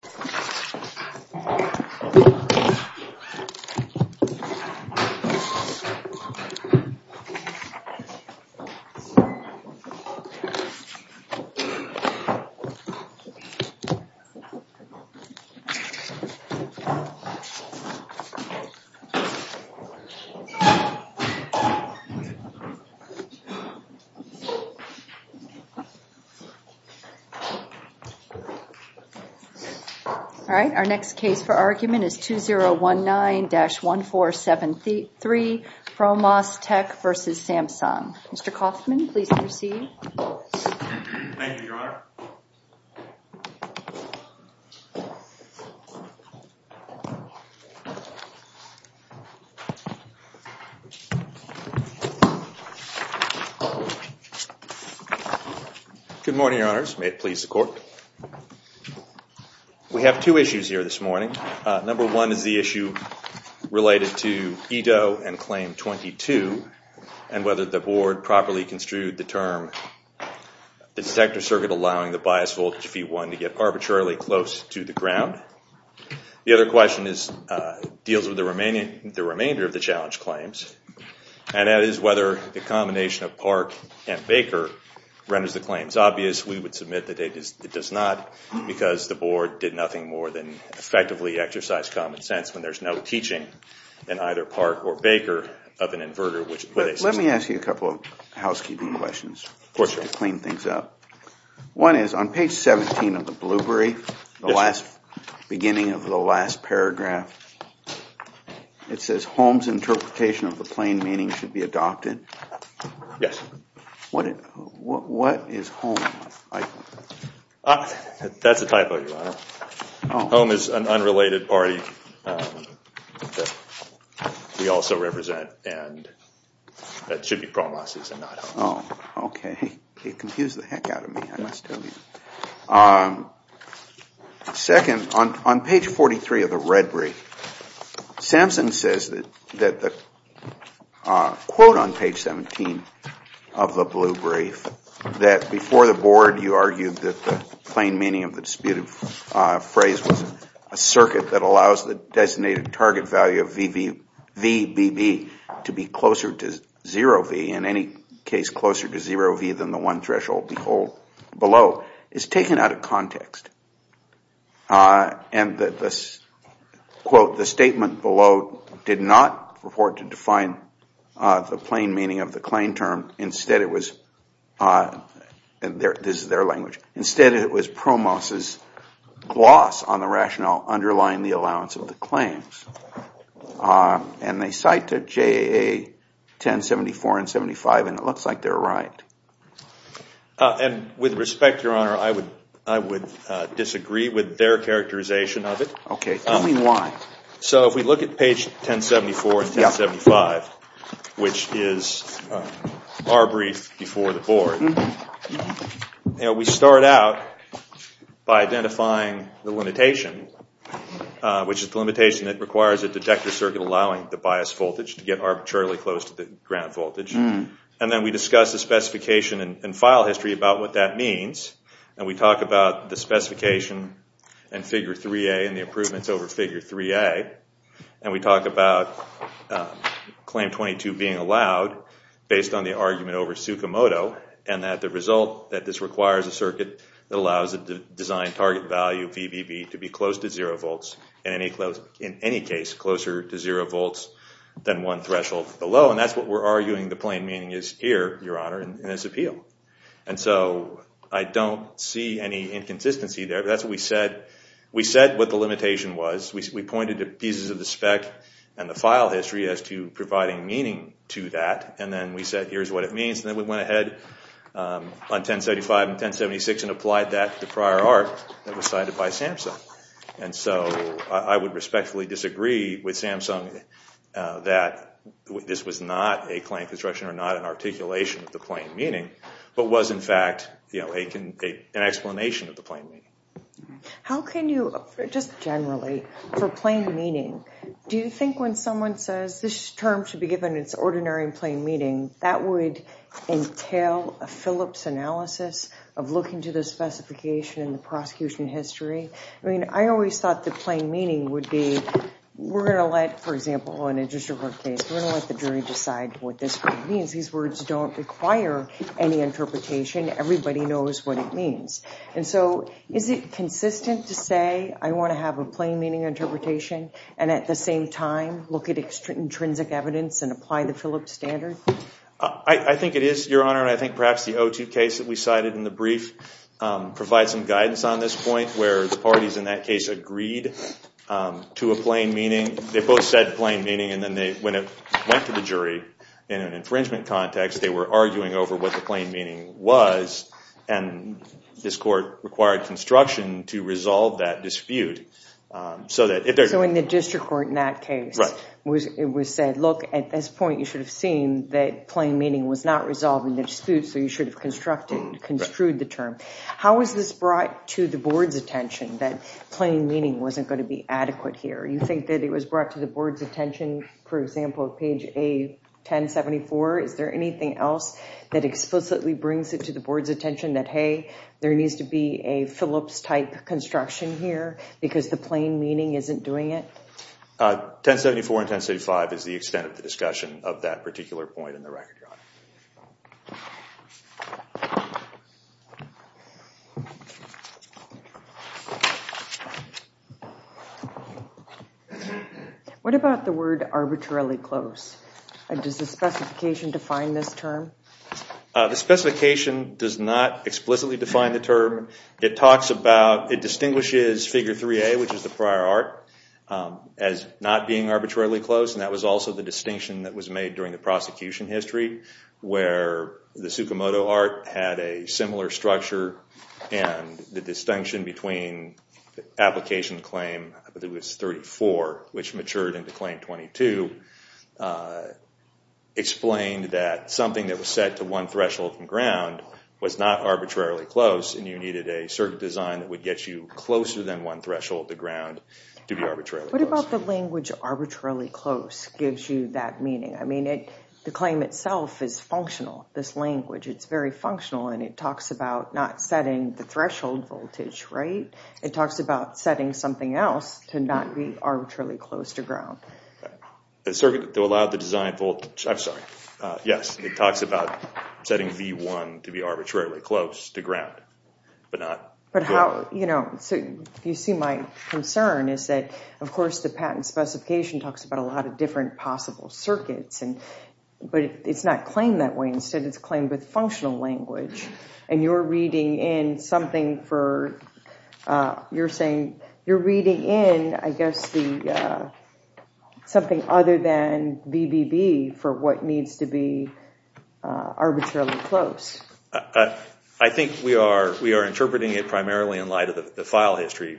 Samsung Electronics Co., Ltd. Mr. Kaufman, please proceed. Thank you, Your Honor. Good morning, Your Honors. May it please the Court. We have two issues here this morning. Number one is the issue related to EDO and Claim 22 and whether the Board properly construed the term the detector circuit allowing the bias voltage V1 to get arbitrarily close to the ground. The other question deals with the remainder of the challenge claims and that is whether the combination of PARC and Baker renders the claims obvious. We would submit that it does not because the Board did nothing more than effectively exercise common sense when there is no teaching in either PARC or Baker of an inverter. Let me ask you a couple of housekeeping questions to clean things up. One is on page 17 of the Blueberry, the beginning of the last paragraph, it says Holmes interpretation of the plain meaning should be adopted. Yes. That is a typo, Your Honor. Holmes is an unrelated party that we also represent and that should be promos and not Holmes. Okay. It confused the heck out of me, I must tell you. Second, on page 43 of the Red Brief, Samson says that the quote on page 17 of the Blue Brief that before the Board you argued that the plain meaning of the disputed phrase was a circuit that allows the designated target value of VBB to be closer to 0V, in any case closer to 0V than the one threshold below, is taken out of context. And the quote, the statement below, did not report to define the plain meaning of the claim term. Instead it was, this is their language, instead it was promos' gloss on the rationale underlying the allowance of the claims. And they cite to JA 1074 and 75 and it looks like they're right. And with respect, Your Honor, I would disagree with their characterization of it. Okay. Tell me why. So if we look at page 1074 and 1075, which is our brief before the Board, we start out by identifying the limitation, which is the limitation that requires a detector circuit allowing the bias voltage to get arbitrarily close to the ground voltage. And then we discuss the specification and file history about what that means And we talk about the specification and figure 3A and the improvements over figure 3A. And we talk about claim 22 being allowed based on the argument over Sukimoto and that the result that this requires a circuit that allows the designed target value of VBB to be close to 0V, in any case closer to 0V than one threshold below. And that's what we're arguing the plain meaning is here, Your Honor, in this appeal. And so I don't see any inconsistency there. That's what we said. We said what the limitation was. We pointed to pieces of the spec and the file history as to providing meaning to that. And then we said here's what it means. And then we went ahead on 1075 and 1076 and applied that to prior art that was cited by Samsung. And so I would respectfully disagree with Samsung that this was not a claim construction or not an articulation of the plain meaning, but was, in fact, an explanation of the plain meaning. How can you, just generally, for plain meaning, do you think when someone says this term should be given its ordinary and plain meaning, that would entail a Phillips analysis of looking to the specification in the prosecution history? I mean, I always thought the plain meaning would be we're going to let, for example, in a district court case, we're going to let the jury decide what this word means. These words don't require any interpretation. Everybody knows what it means. And so is it consistent to say I want to have a plain meaning interpretation and at the same time look at intrinsic evidence and apply the Phillips standard? I think it is, Your Honor, and I think perhaps the O2 case that we cited in the brief provides some guidance on this point where the parties in that case agreed to a plain meaning. They both said plain meaning, and then when it went to the jury in an infringement context, they were arguing over what the plain meaning was, and this court required construction to resolve that dispute. So in the district court in that case, it was said, look, at this point, you should have seen that plain meaning was not resolved in the dispute, so you should have construed the term. How was this brought to the board's attention that plain meaning wasn't going to be adequate here? You think that it was brought to the board's attention, for example, at page 1074? Is there anything else that explicitly brings it to the board's attention that, hey, there needs to be a Phillips-type construction here because the plain meaning isn't doing it? 1074 and 1075 is the extent of the discussion of that particular point in the record, Your Honor. What about the word arbitrarily close? Does the specification define this term? The specification does not explicitly define the term. It distinguishes Figure 3A, which is the prior art, as not being arbitrarily close, and that was also the distinction that was made during the prosecution history where the Sukimoto art had a similar structure and the distinction between the application claim, I believe it was 34, which matured into claim 22, explained that something that was set to one threshold from ground was not arbitrarily close and you needed a certain design that would get you closer than one threshold to ground to be arbitrarily close. What about the language arbitrarily close gives you that meaning? I mean, the claim itself is functional, this language. It's very functional and it talks about not setting the threshold voltage, right? It talks about setting something else to not be arbitrarily close to ground. The circuit that allowed the design voltage, I'm sorry. Yes, it talks about setting V1 to be arbitrarily close to ground but not to ground. But how, you know, so you see my concern is that, of course, the patent specification talks about a lot of different possible circuits, but it's not claimed that way. Instead, it's claimed with functional language and you're reading in something for, you're saying, you're reading in, I guess, something other than VBB for what needs to be arbitrarily close. I think we are interpreting it primarily in light of the file history,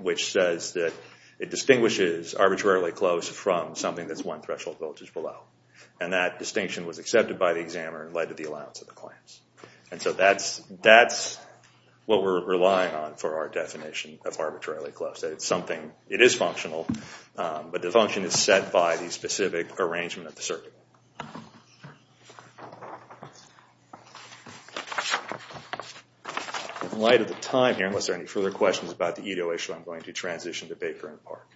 which says that it distinguishes arbitrarily close from something that's one threshold voltage below. And that distinction was accepted by the examiner and led to the allowance of the claims. And so that's what we're relying on for our definition of arbitrarily close. It's something, it is functional, but the function is set by the specific arrangement of the circuit. In light of the time here, unless there are any further questions about the Ito issue, I'm going to transition to Baker and Park.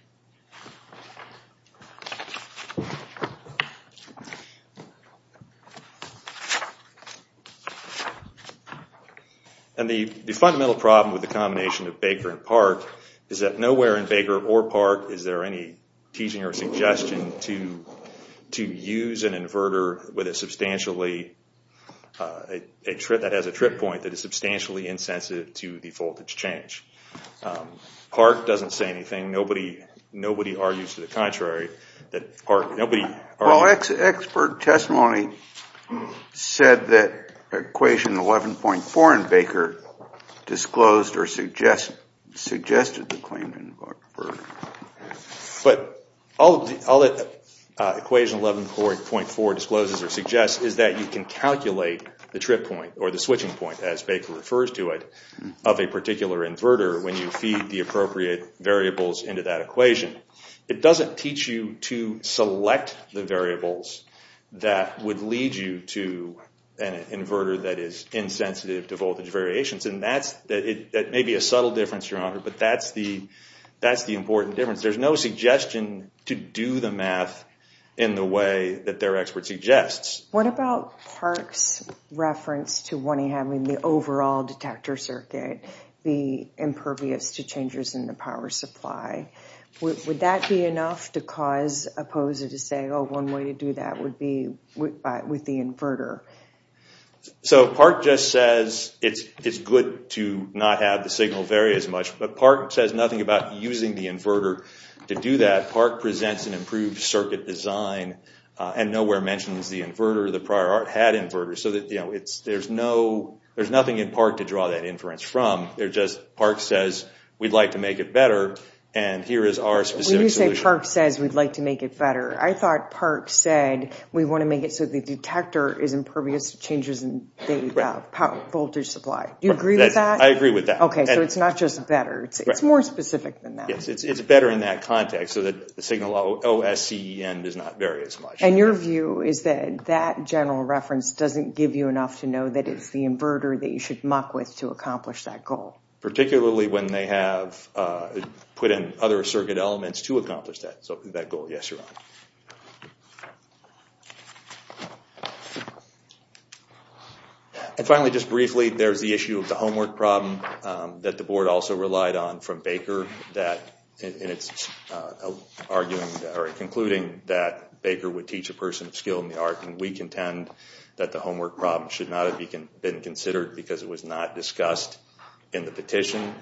And the fundamental problem with the combination of Baker and Park is that nowhere in Baker or Park is there any teaching or suggestion to use an inverter with a substantially, that has a trip point that is substantially insensitive to the voltage change. Park doesn't say anything. Nobody argues to the contrary. Well, expert testimony said that equation 11.4 in Baker disclosed or suggested the claim of an inverter. But all that equation 11.4 discloses or suggests is that you can calculate the trip point, or the switching point as Baker refers to it, of a particular inverter when you feed the appropriate variables into that equation. It doesn't teach you to select the variables that would lead you to an inverter that is insensitive to voltage variations. And that may be a subtle difference, Your Honor, but that's the important difference. There's no suggestion to do the math in the way that their expert suggests. What about Park's reference to wanting having the overall detector circuit be impervious to changes in the power supply? Would that be enough to cause a poser to say, oh, one way to do that would be with the inverter? So Park just says it's good to not have the signal vary as much. But Park says nothing about using the inverter to do that. Park presents an improved circuit design and nowhere mentions the inverter. The prior art had inverters, so there's nothing in Park to draw that inference from. Park says we'd like to make it better, and here is our specific solution. When you say Park says we'd like to make it better, I thought Park said we want to make it so the detector is impervious to changes in the voltage supply. Do you agree with that? I agree with that. Okay, so it's not just better. It's more specific than that. Yes, it's better in that context so that the signal OSCEN does not vary as much. And your view is that that general reference doesn't give you enough to know that it's the inverter that you should muck with to accomplish that goal? Particularly when they have put in other circuit elements to accomplish that goal. Yes, Your Honor. And finally, just briefly, there's the issue of the homework problem that the board also relied on from Baker. And it's concluding that Baker would teach a person of skill in the art, and we contend that the homework problem should not have been considered because it was not discussed in the petition.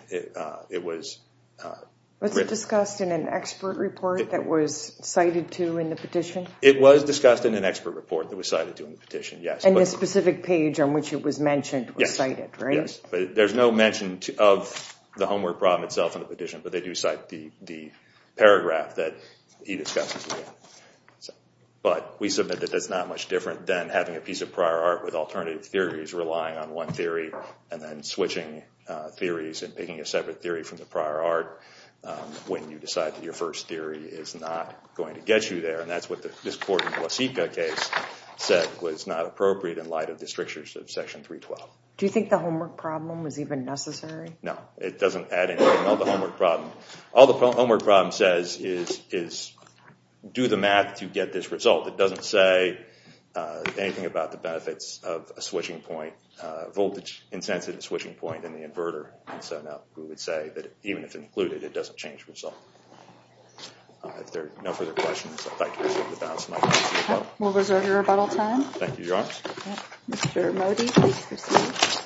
Was it discussed in an expert report that was cited to in the petition? It was discussed in an expert report that was cited to in the petition, yes. And the specific page on which it was mentioned was cited, right? Yes, but there's no mention of the homework problem itself in the petition, but they do cite the paragraph that he discussed as well. But we submit that that's not much different than having a piece of prior art with alternative theories, relying on one theory, and then switching theories and picking a separate theory from the prior art when you decide that your first theory is not going to get you there. And that's what this court in the Wasika case said was not appropriate in light of the strictures of Section 312. Do you think the homework problem was even necessary? No, it doesn't add anything to the homework problem. All the homework problem says is do the math to get this result. It doesn't say anything about the benefits of a switching point, a voltage-intensive switching point in the inverter. So no, we would say that even if included, it doesn't change the result. If there are no further questions, I'd like to reserve the balance of my time. We'll reserve your rebuttal time. Thank you, Your Honor. Mr. Modi, please proceed. Thank you, Your Honor.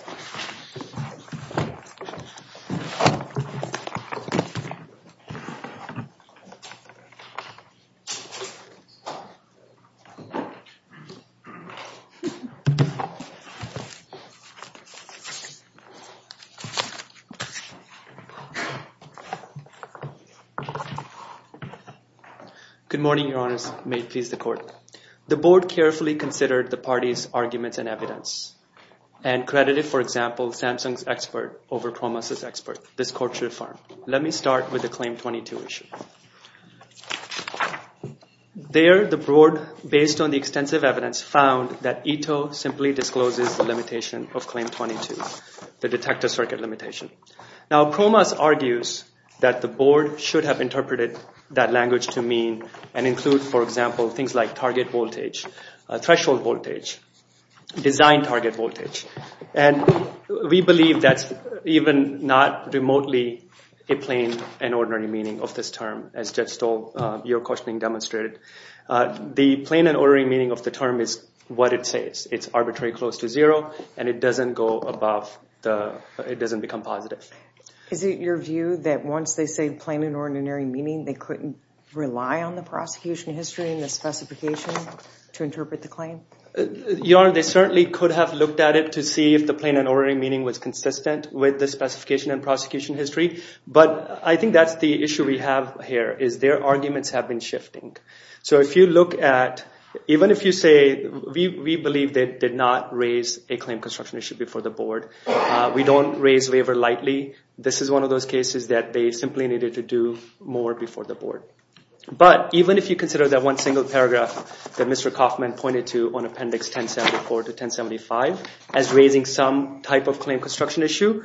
Good morning, Your Honors. May it please the Court. The Board carefully considered the parties' arguments and evidence and credited, for example, Samsung's expert over PROMAS's expert, this court's reform. Let me start with the Claim 22 issue. There, the Board, based on the extensive evidence, found that ITO simply discloses the limitation of Claim 22, the detector circuit limitation. Now PROMAS argues that the Board should have interpreted that language to mean and include, for example, things like target voltage, threshold voltage, design target voltage. And we believe that's even not remotely a plain and ordinary meaning of this term, as Judge Stoll, your questioning demonstrated. The plain and ordinary meaning of the term is what it says. It's arbitrary close to zero, and it doesn't go above the, it doesn't become positive. Is it your view that once they say plain and ordinary meaning, to interpret the claim? Your Honor, they certainly could have looked at it to see if the plain and ordinary meaning was consistent with the specification and prosecution history. But I think that's the issue we have here, is their arguments have been shifting. So if you look at, even if you say, we believe they did not raise a claim construction issue before the Board. We don't raise waiver lightly. This is one of those cases that they simply needed to do more before the Board. But even if you consider that one single paragraph that Mr. Kaufman pointed to on Appendix 1074 to 1075, as raising some type of claim construction issue,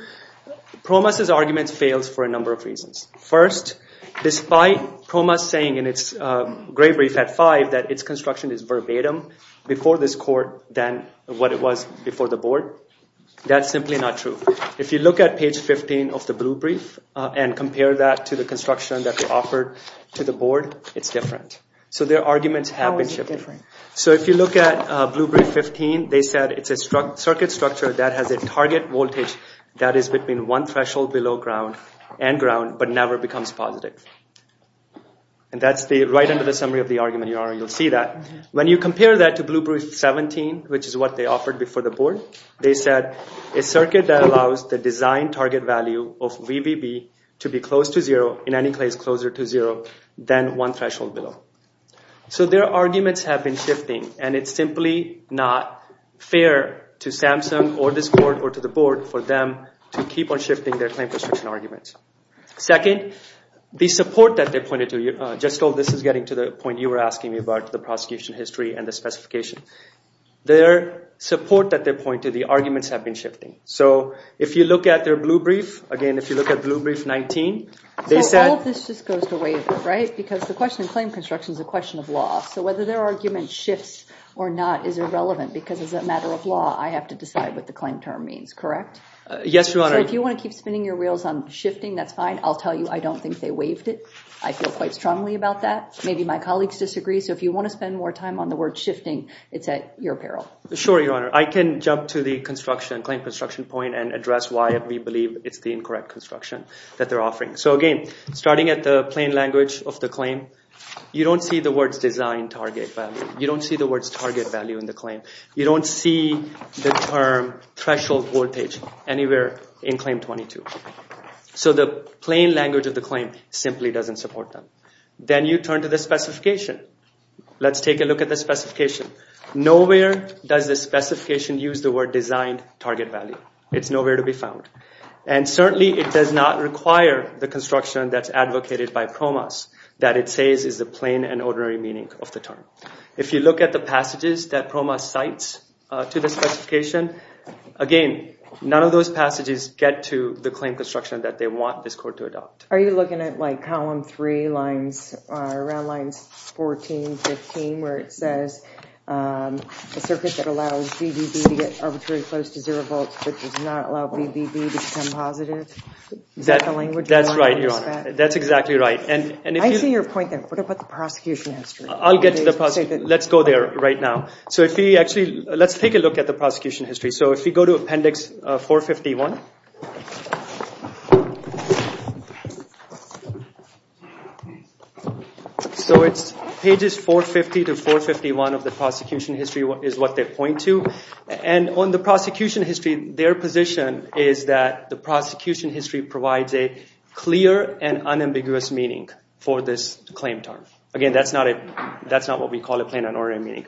Promus' argument fails for a number of reasons. First, despite Promus saying in its gray brief at five that its construction is verbatim before this Court than what it was before the Board, that's simply not true. If you look at page 15 of the blue brief and compare that to the construction that was offered to the Board, it's different. So their arguments have been shifting. So if you look at blue brief 15, they said it's a circuit structure that has a target voltage that is between one threshold below ground and ground but never becomes positive. And that's right under the summary of the argument. You'll see that. When you compare that to blue brief 17, which is what they offered before the Board, they said a circuit that allows the design target value of VBB to be close to zero, in any case closer to zero, than one threshold below. So their arguments have been shifting, and it's simply not fair to Samsung or this Court or to the Board for them to keep on shifting their claim construction arguments. Second, the support that they pointed to, just so this is getting to the point you were asking me about, the prosecution history and the specification. Their support that they pointed to, the arguments have been shifting. So if you look at their blue brief, again if you look at blue brief 19, they said- So all of this just goes to waiver, right? Because the question of claim construction is a question of law. So whether their argument shifts or not is irrelevant because as a matter of law, I have to decide what the claim term means, correct? Yes, Your Honor. So if you want to keep spinning your wheels on shifting, that's fine. I'll tell you I don't think they waived it. I feel quite strongly about that. Maybe my colleagues disagree. So if you want to spend more time on the word shifting, it's at your peril. Sure, Your Honor. I can jump to the claim construction point and address why we believe it's the incorrect construction that they're offering. So again, starting at the plain language of the claim, you don't see the words design target value. You don't see the words target value in the claim. You don't see the term threshold voltage anywhere in Claim 22. So the plain language of the claim simply doesn't support them. Then you turn to the specification. Let's take a look at the specification. Nowhere does the specification use the word design target value. It's nowhere to be found. And certainly it does not require the construction that's advocated by PROMAS that it says is the plain and ordinary meaning of the term. If you look at the passages that PROMAS cites to the specification, again, none of those passages get to the claim construction that they want this court to adopt. Are you looking at, like, column 3, around lines 14, 15, where it says a circuit that allows VBB to get arbitrarily close to zero volts but does not allow VBB to become positive? Is that the language you want to use for that? That's right, Your Honor. That's exactly right. I see your point there. What about the prosecution history? I'll get to the prosecution. Let's go there right now. Let's take a look at the prosecution history. So if you go to Appendix 451. So it's pages 450 to 451 of the prosecution history is what they point to. And on the prosecution history, their position is that the prosecution history provides a clear and unambiguous meaning for this claim term. Again, that's not what we call a plain and ordinary meaning.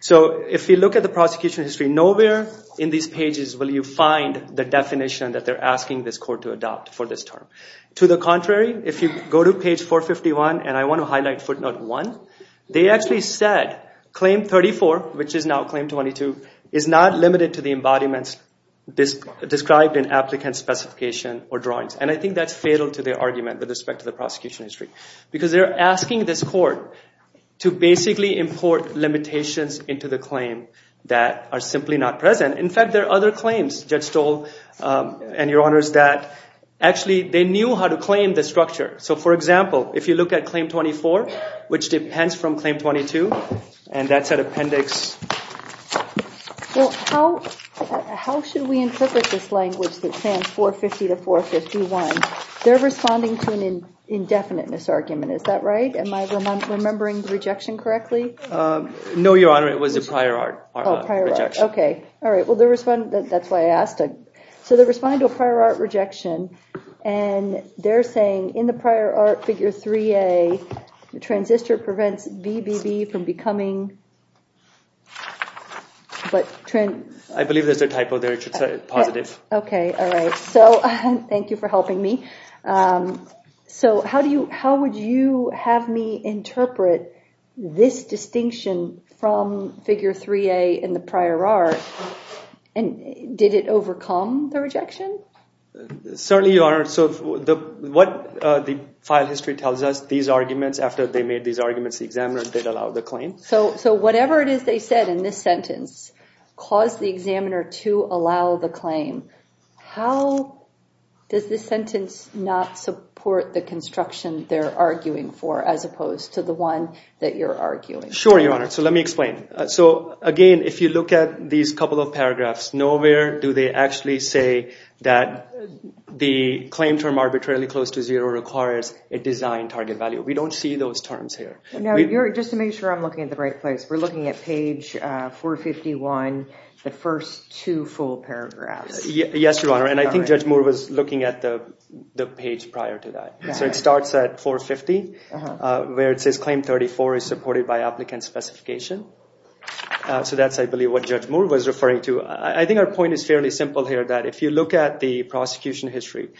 So if you look at the prosecution history, nowhere in these pages will you find the definition that they're asking this court to adopt for this term. To the contrary, if you go to page 451, and I want to highlight footnote 1, they actually said claim 34, which is now claim 22, is not limited to the embodiments described in applicant specification or drawings. And I think that's fatal to their argument with respect to the prosecution history because they're asking this court to basically import limitations into the claim that are simply not present. In fact, there are other claims, Judge Stoll and Your Honors, that actually they knew how to claim the structure. So, for example, if you look at claim 24, which depends from claim 22, and that's an appendix. Well, how should we interpret this language that says 450 to 451? They're responding to an indefiniteness argument, is that right? Am I remembering the rejection correctly? No, Your Honor, it was a prior art rejection. Oh, prior art, okay. All right, well, that's why I asked. So they're responding to a prior art rejection, and they're saying in the prior art figure 3A, the transistor prevents BBB from becoming… I believe there's a typo there, it should say positive. Okay, all right. So, thank you for helping me. So how would you have me interpret this distinction from figure 3A in the prior art? And did it overcome the rejection? Certainly, Your Honor. So what the file history tells us, these arguments, after they made these arguments, the examiner did allow the claim. So whatever it is they said in this sentence caused the examiner to allow the claim. How does this sentence not support the construction they're arguing for as opposed to the one that you're arguing for? Sure, Your Honor, so let me explain. So, again, if you look at these couple of paragraphs, nowhere do they actually say that the claim term arbitrarily close to zero requires a design target value. We don't see those terms here. No, just to make sure I'm looking at the right place, we're looking at page 451, the first two full paragraphs. Yes, Your Honor, and I think Judge Moore was looking at the page prior to that. So it starts at 450, where it says, Claim 34 is supported by applicant specification. So that's, I believe, what Judge Moore was referring to. I think our point is fairly simple here, that if you look at the prosecution history,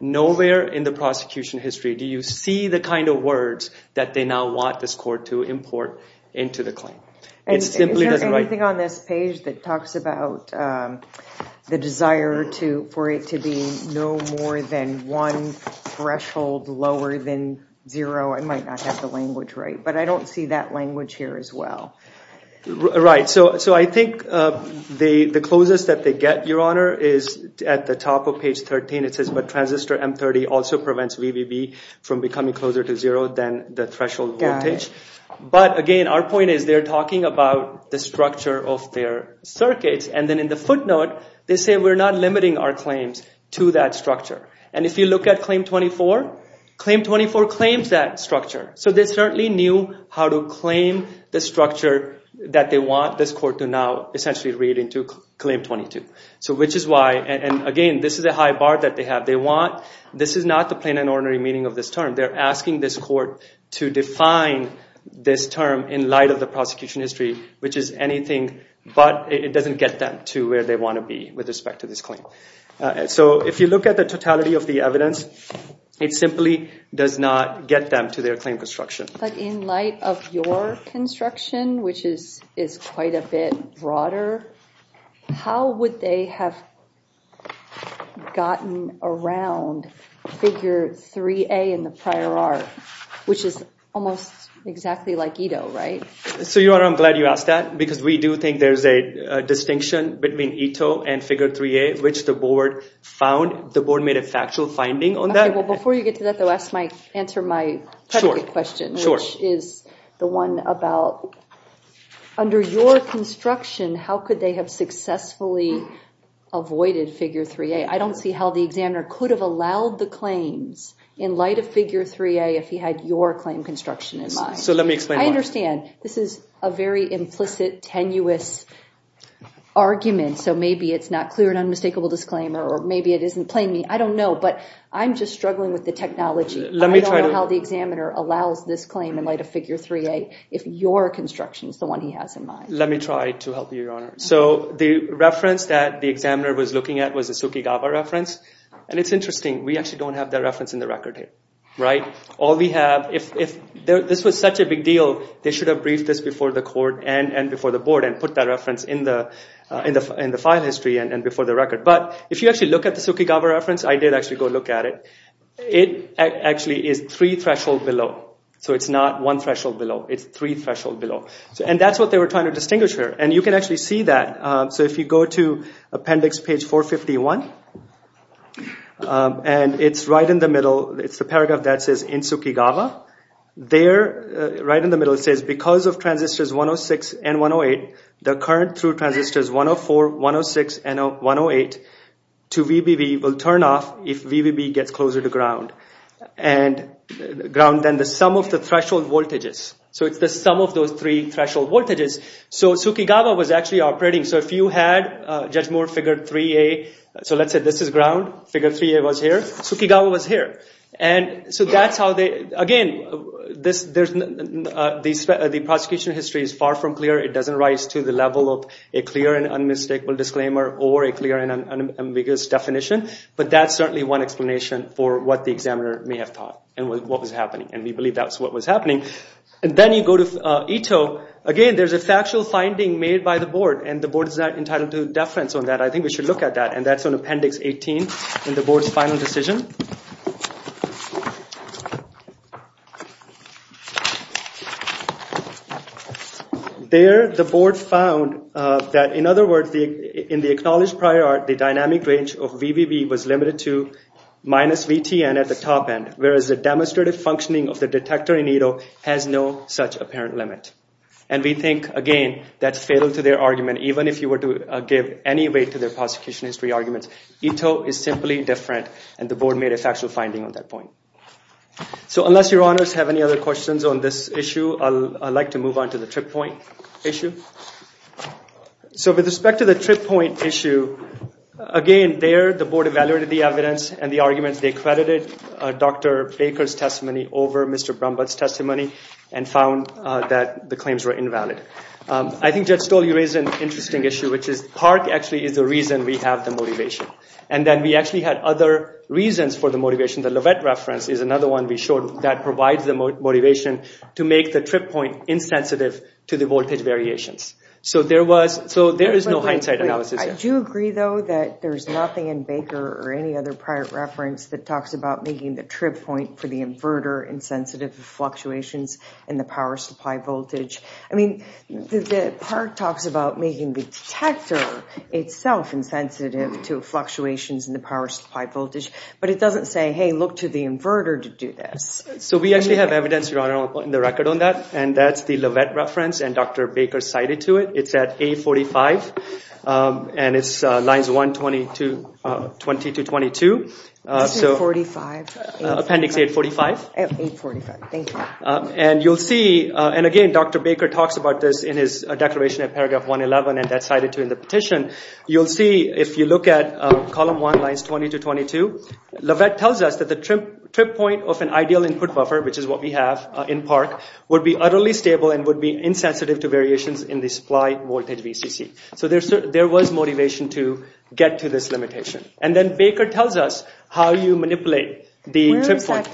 nowhere in the prosecution history do you see the kind of words that they now want this court to import into the claim. Is there anything on this page that talks about the desire for it to be no more than one threshold lower than zero? I might not have the language right, but I don't see that language here as well. Right, so I think the closest that they get, Your Honor, is at the top of page 13. It says, but transistor M30 also prevents VBB from becoming closer to zero than the threshold voltage. Got it. But, again, our point is they're talking about the structure of their circuits, and then in the footnote, they say we're not limiting our claims to that structure. And if you look at Claim 24, Claim 24 claims that structure. So they certainly knew how to claim the structure that they want this court to now essentially read into Claim 22. So which is why, and again, this is a high bar that they have. They want, this is not the plain and ordinary meaning of this term. They're asking this court to define this term in light of the prosecution history, which is anything but it doesn't get them to where they want to be with respect to this claim. So if you look at the totality of the evidence, it simply does not get them to their claim construction. But in light of your construction, which is quite a bit broader, how would they have gotten around Figure 3A in the prior art, which is almost exactly like ETO, right? So, Your Honor, I'm glad you asked that, because we do think there's a distinction between ETO and Figure 3A, which the board found. The board made a factual finding on that. Okay, well, before you get to that, though, answer my predicate question, which is the one about under your construction, how could they have successfully avoided Figure 3A? I don't see how the examiner could have allowed the claims in light of Figure 3A if he had your claim construction in mind. So let me explain why. I understand this is a very implicit, tenuous argument. So maybe it's not clear and unmistakable disclaimer, or maybe it isn't plain to me. I don't know, but I'm just struggling with the technology. I don't know how the examiner allows this claim in light of Figure 3A if your construction is the one he has in mind. Let me try to help you, Your Honor. So the reference that the examiner was looking at was the Tsukigawa reference. And it's interesting. We actually don't have that reference in the record here. Right? If this was such a big deal, they should have briefed this before the court and before the board and put that reference in the file history and before the record. But if you actually look at the Tsukigawa reference, I did actually go look at it, it actually is three threshold below. So it's not one threshold below. It's three threshold below. And that's what they were trying to distinguish here. And you can actually see that. So if you go to appendix page 451, and it's right in the middle. It's the paragraph that says, in Tsukigawa. There, right in the middle, it says, because of transistors 106 and 108, the current through transistors 104, 106, and 108 to VBB will turn off if VBB gets closer to ground. And ground, then, the sum of the threshold voltages. So it's the sum of those three threshold voltages. So Tsukigawa was actually operating. So if you had Judge Moore Figure 3A. So let's say this is ground. Figure 3A was here. Tsukigawa was here. And so that's how they, again, the prosecution history is far from clear. It doesn't rise to the level of a clear and unmistakable disclaimer or a clear and ambiguous definition. But that's certainly one explanation for what the examiner may have thought and what was happening. And we believe that's what was happening. And then you go to Ito. Again, there's a factual finding made by the board. And the board is not entitled to deference on that. I think we should look at that. And that's on appendix 18 in the board's final decision. There, the board found that, in other words, in the acknowledged prior art, the dynamic range of VBB was limited to minus VTN at the top end, whereas the demonstrative functioning of the detector in Ito has no such apparent limit. And we think, again, that's fatal to their argument, even if you were to give any weight to their prosecution history arguments. Ito is simply different. And the board made a factual finding on that point. So unless your honors have any other questions on this issue, I'd like to move on to the trip point issue. So with respect to the trip point issue, again, there the board evaluated the evidence and the arguments. They credited Dr. Baker's testimony over Mr. Brumbutt's testimony and found that the claims were invalid. I think Judge Stoll, you raised an interesting issue, which is PARC actually is the reason we have the motivation. And then we actually had other reasons for the motivation. The Lovett reference is another one we showed that provides the motivation to make the trip point insensitive to the voltage variations. So there is no hindsight analysis there. I do agree, though, that there's nothing in Baker or any other prior reference that talks about making the trip point for the inverter insensitive to fluctuations in the power supply voltage. The PARC talks about making the detector itself insensitive to fluctuations in the power supply voltage. But it doesn't say, hey, look to the inverter to do this. So we actually have evidence, Your Honor, on the record on that. And that's the Lovett reference. And Dr. Baker cited to it. It's at 845. And it's lines 120 to 22. Isn't it 45? Appendix 845. 845, thank you. And again, Dr. Baker talks about this in his declaration at paragraph 111 and that's cited too in the petition. You'll see if you look at column 1, lines 20 to 22, Lovett tells us that the trip point of an ideal input buffer, which is what we have in PARC, would be utterly stable and would be insensitive to variations in the supply voltage VCC. So there was motivation to get to this limitation. And then Baker tells us how you manipulate the trip point.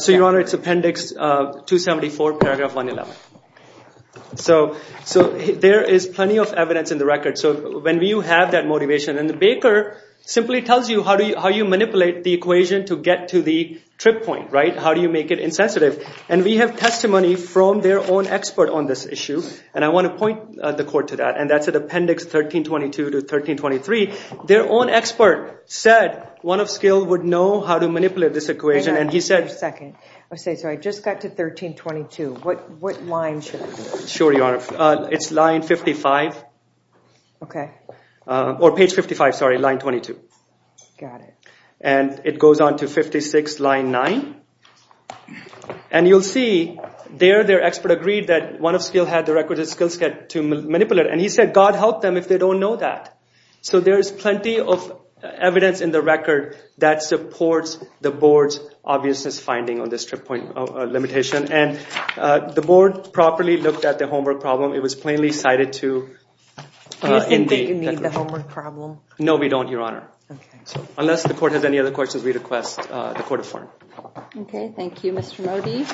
So, Your Honor, it's appendix 274, paragraph 111. So there is plenty of evidence in the record. So when you have that motivation, and Baker simply tells you how you manipulate the equation to get to the trip point, right? How do you make it insensitive? And we have testimony from their own expert on this issue. And I want to point the court to that. And that's at appendix 1322 to 1323. Their own expert said one of skill would know how to manipulate this equation. Hang on a second. So I just got to 1322. What line should I look at? Sure, Your Honor. It's line 55. Okay. Or page 55, sorry, line 22. Got it. And it goes on to 56, line 9. And you'll see there their expert agreed that one of skill had the requisite skills to manipulate. And he said God help them if they don't know that. So there is plenty of evidence in the record that supports the board's obviousness finding on this trip point limitation. And the board properly looked at the homework problem. It was plainly cited to... Do you think that you need the homework problem? No, we don't, Your Honor. Unless the court has any other questions, we request the court affirm. Okay, thank you, Mr. Modi.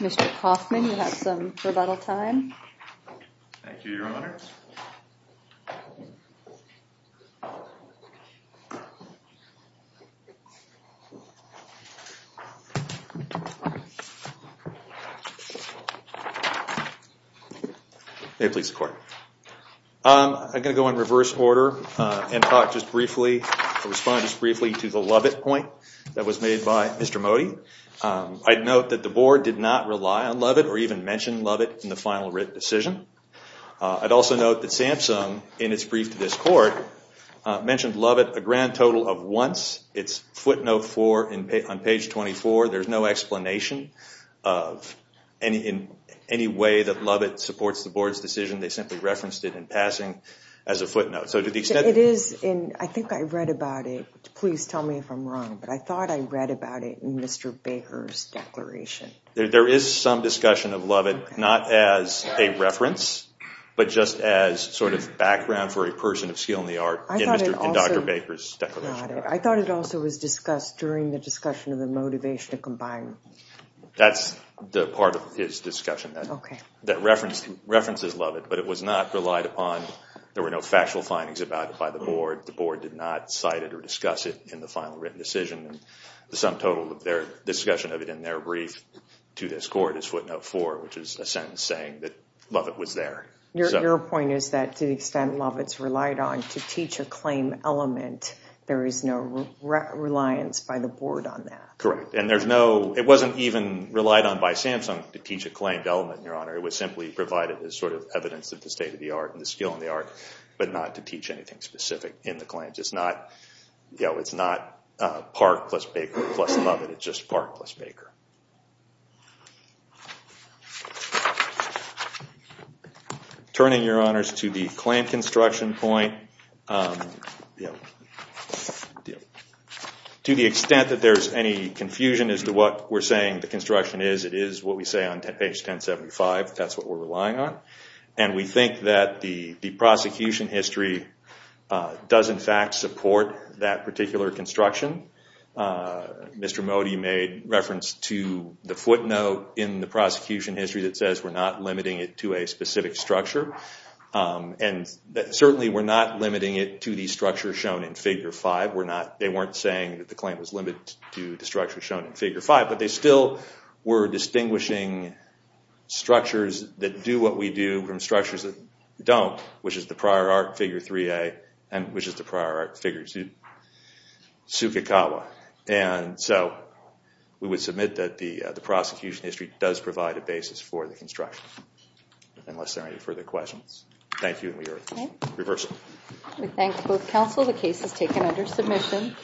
Mr. Kaufman, you have some rebuttal time. Thank you, Your Honor. Thank you. May it please the court. I'm going to go in reverse order and talk just briefly, respond just briefly to the Lovett point that was made by Mr. Modi. I'd note that the board did not rely on Lovett or even mention Lovett in the final writ decision. I'd also note that Samsung, in its brief to this court, mentioned Lovett a grand total of once. It's footnote four on page 24. There's no explanation of any way that Lovett supports the board's decision. They simply referenced it in passing as a footnote. I think I read about it. Please tell me if I'm wrong, but I thought I read about it in Mr. Baker's declaration. There is some discussion of Lovett, not as a reference, but just as sort of background for a person of skill in the art in Dr. Baker's declaration. I thought it also was discussed during the discussion of the motivation to combine. That's the part of his discussion, that references Lovett, but it was not relied upon. There were no factual findings about it by the board. The board did not cite it or discuss it in the final written decision. The sum total of their discussion of it in their brief to this court is footnote four, which is a sentence saying that Lovett was there. Your point is that to the extent Lovett's relied on to teach a claim element, there is no reliance by the board on that. Correct. It wasn't even relied on by Samsung to teach a claimed element, Your Honor. It was simply provided as sort of evidence of the state of the art and the skill in the art, but not to teach anything specific in the claims. It's not Park plus Baker plus Lovett. It's just Park plus Baker. Turning, Your Honors, to the claim construction point, to the extent that there's any confusion as to what we're saying the construction is, it is what we say on page 1075. That's what we're relying on. We think that the prosecution history does, in fact, support that particular construction. Mr. Modi made reference to the footnote in the prosecution history that says we're not limiting it to a specific structure. Certainly, we're not limiting it to the structure shown in figure five. They weren't saying that the claim was limited to the structure shown in figure five, but they still were distinguishing structures that do what we do from structures that don't, which is the prior art figure 3A and which is the prior art figure 2, Tsukikawa. We would submit that the prosecution history does provide a basis for the construction, unless there are any further questions. Thank you, and we are reversing. We thank both counsel. The case is taken under submission. Thank you.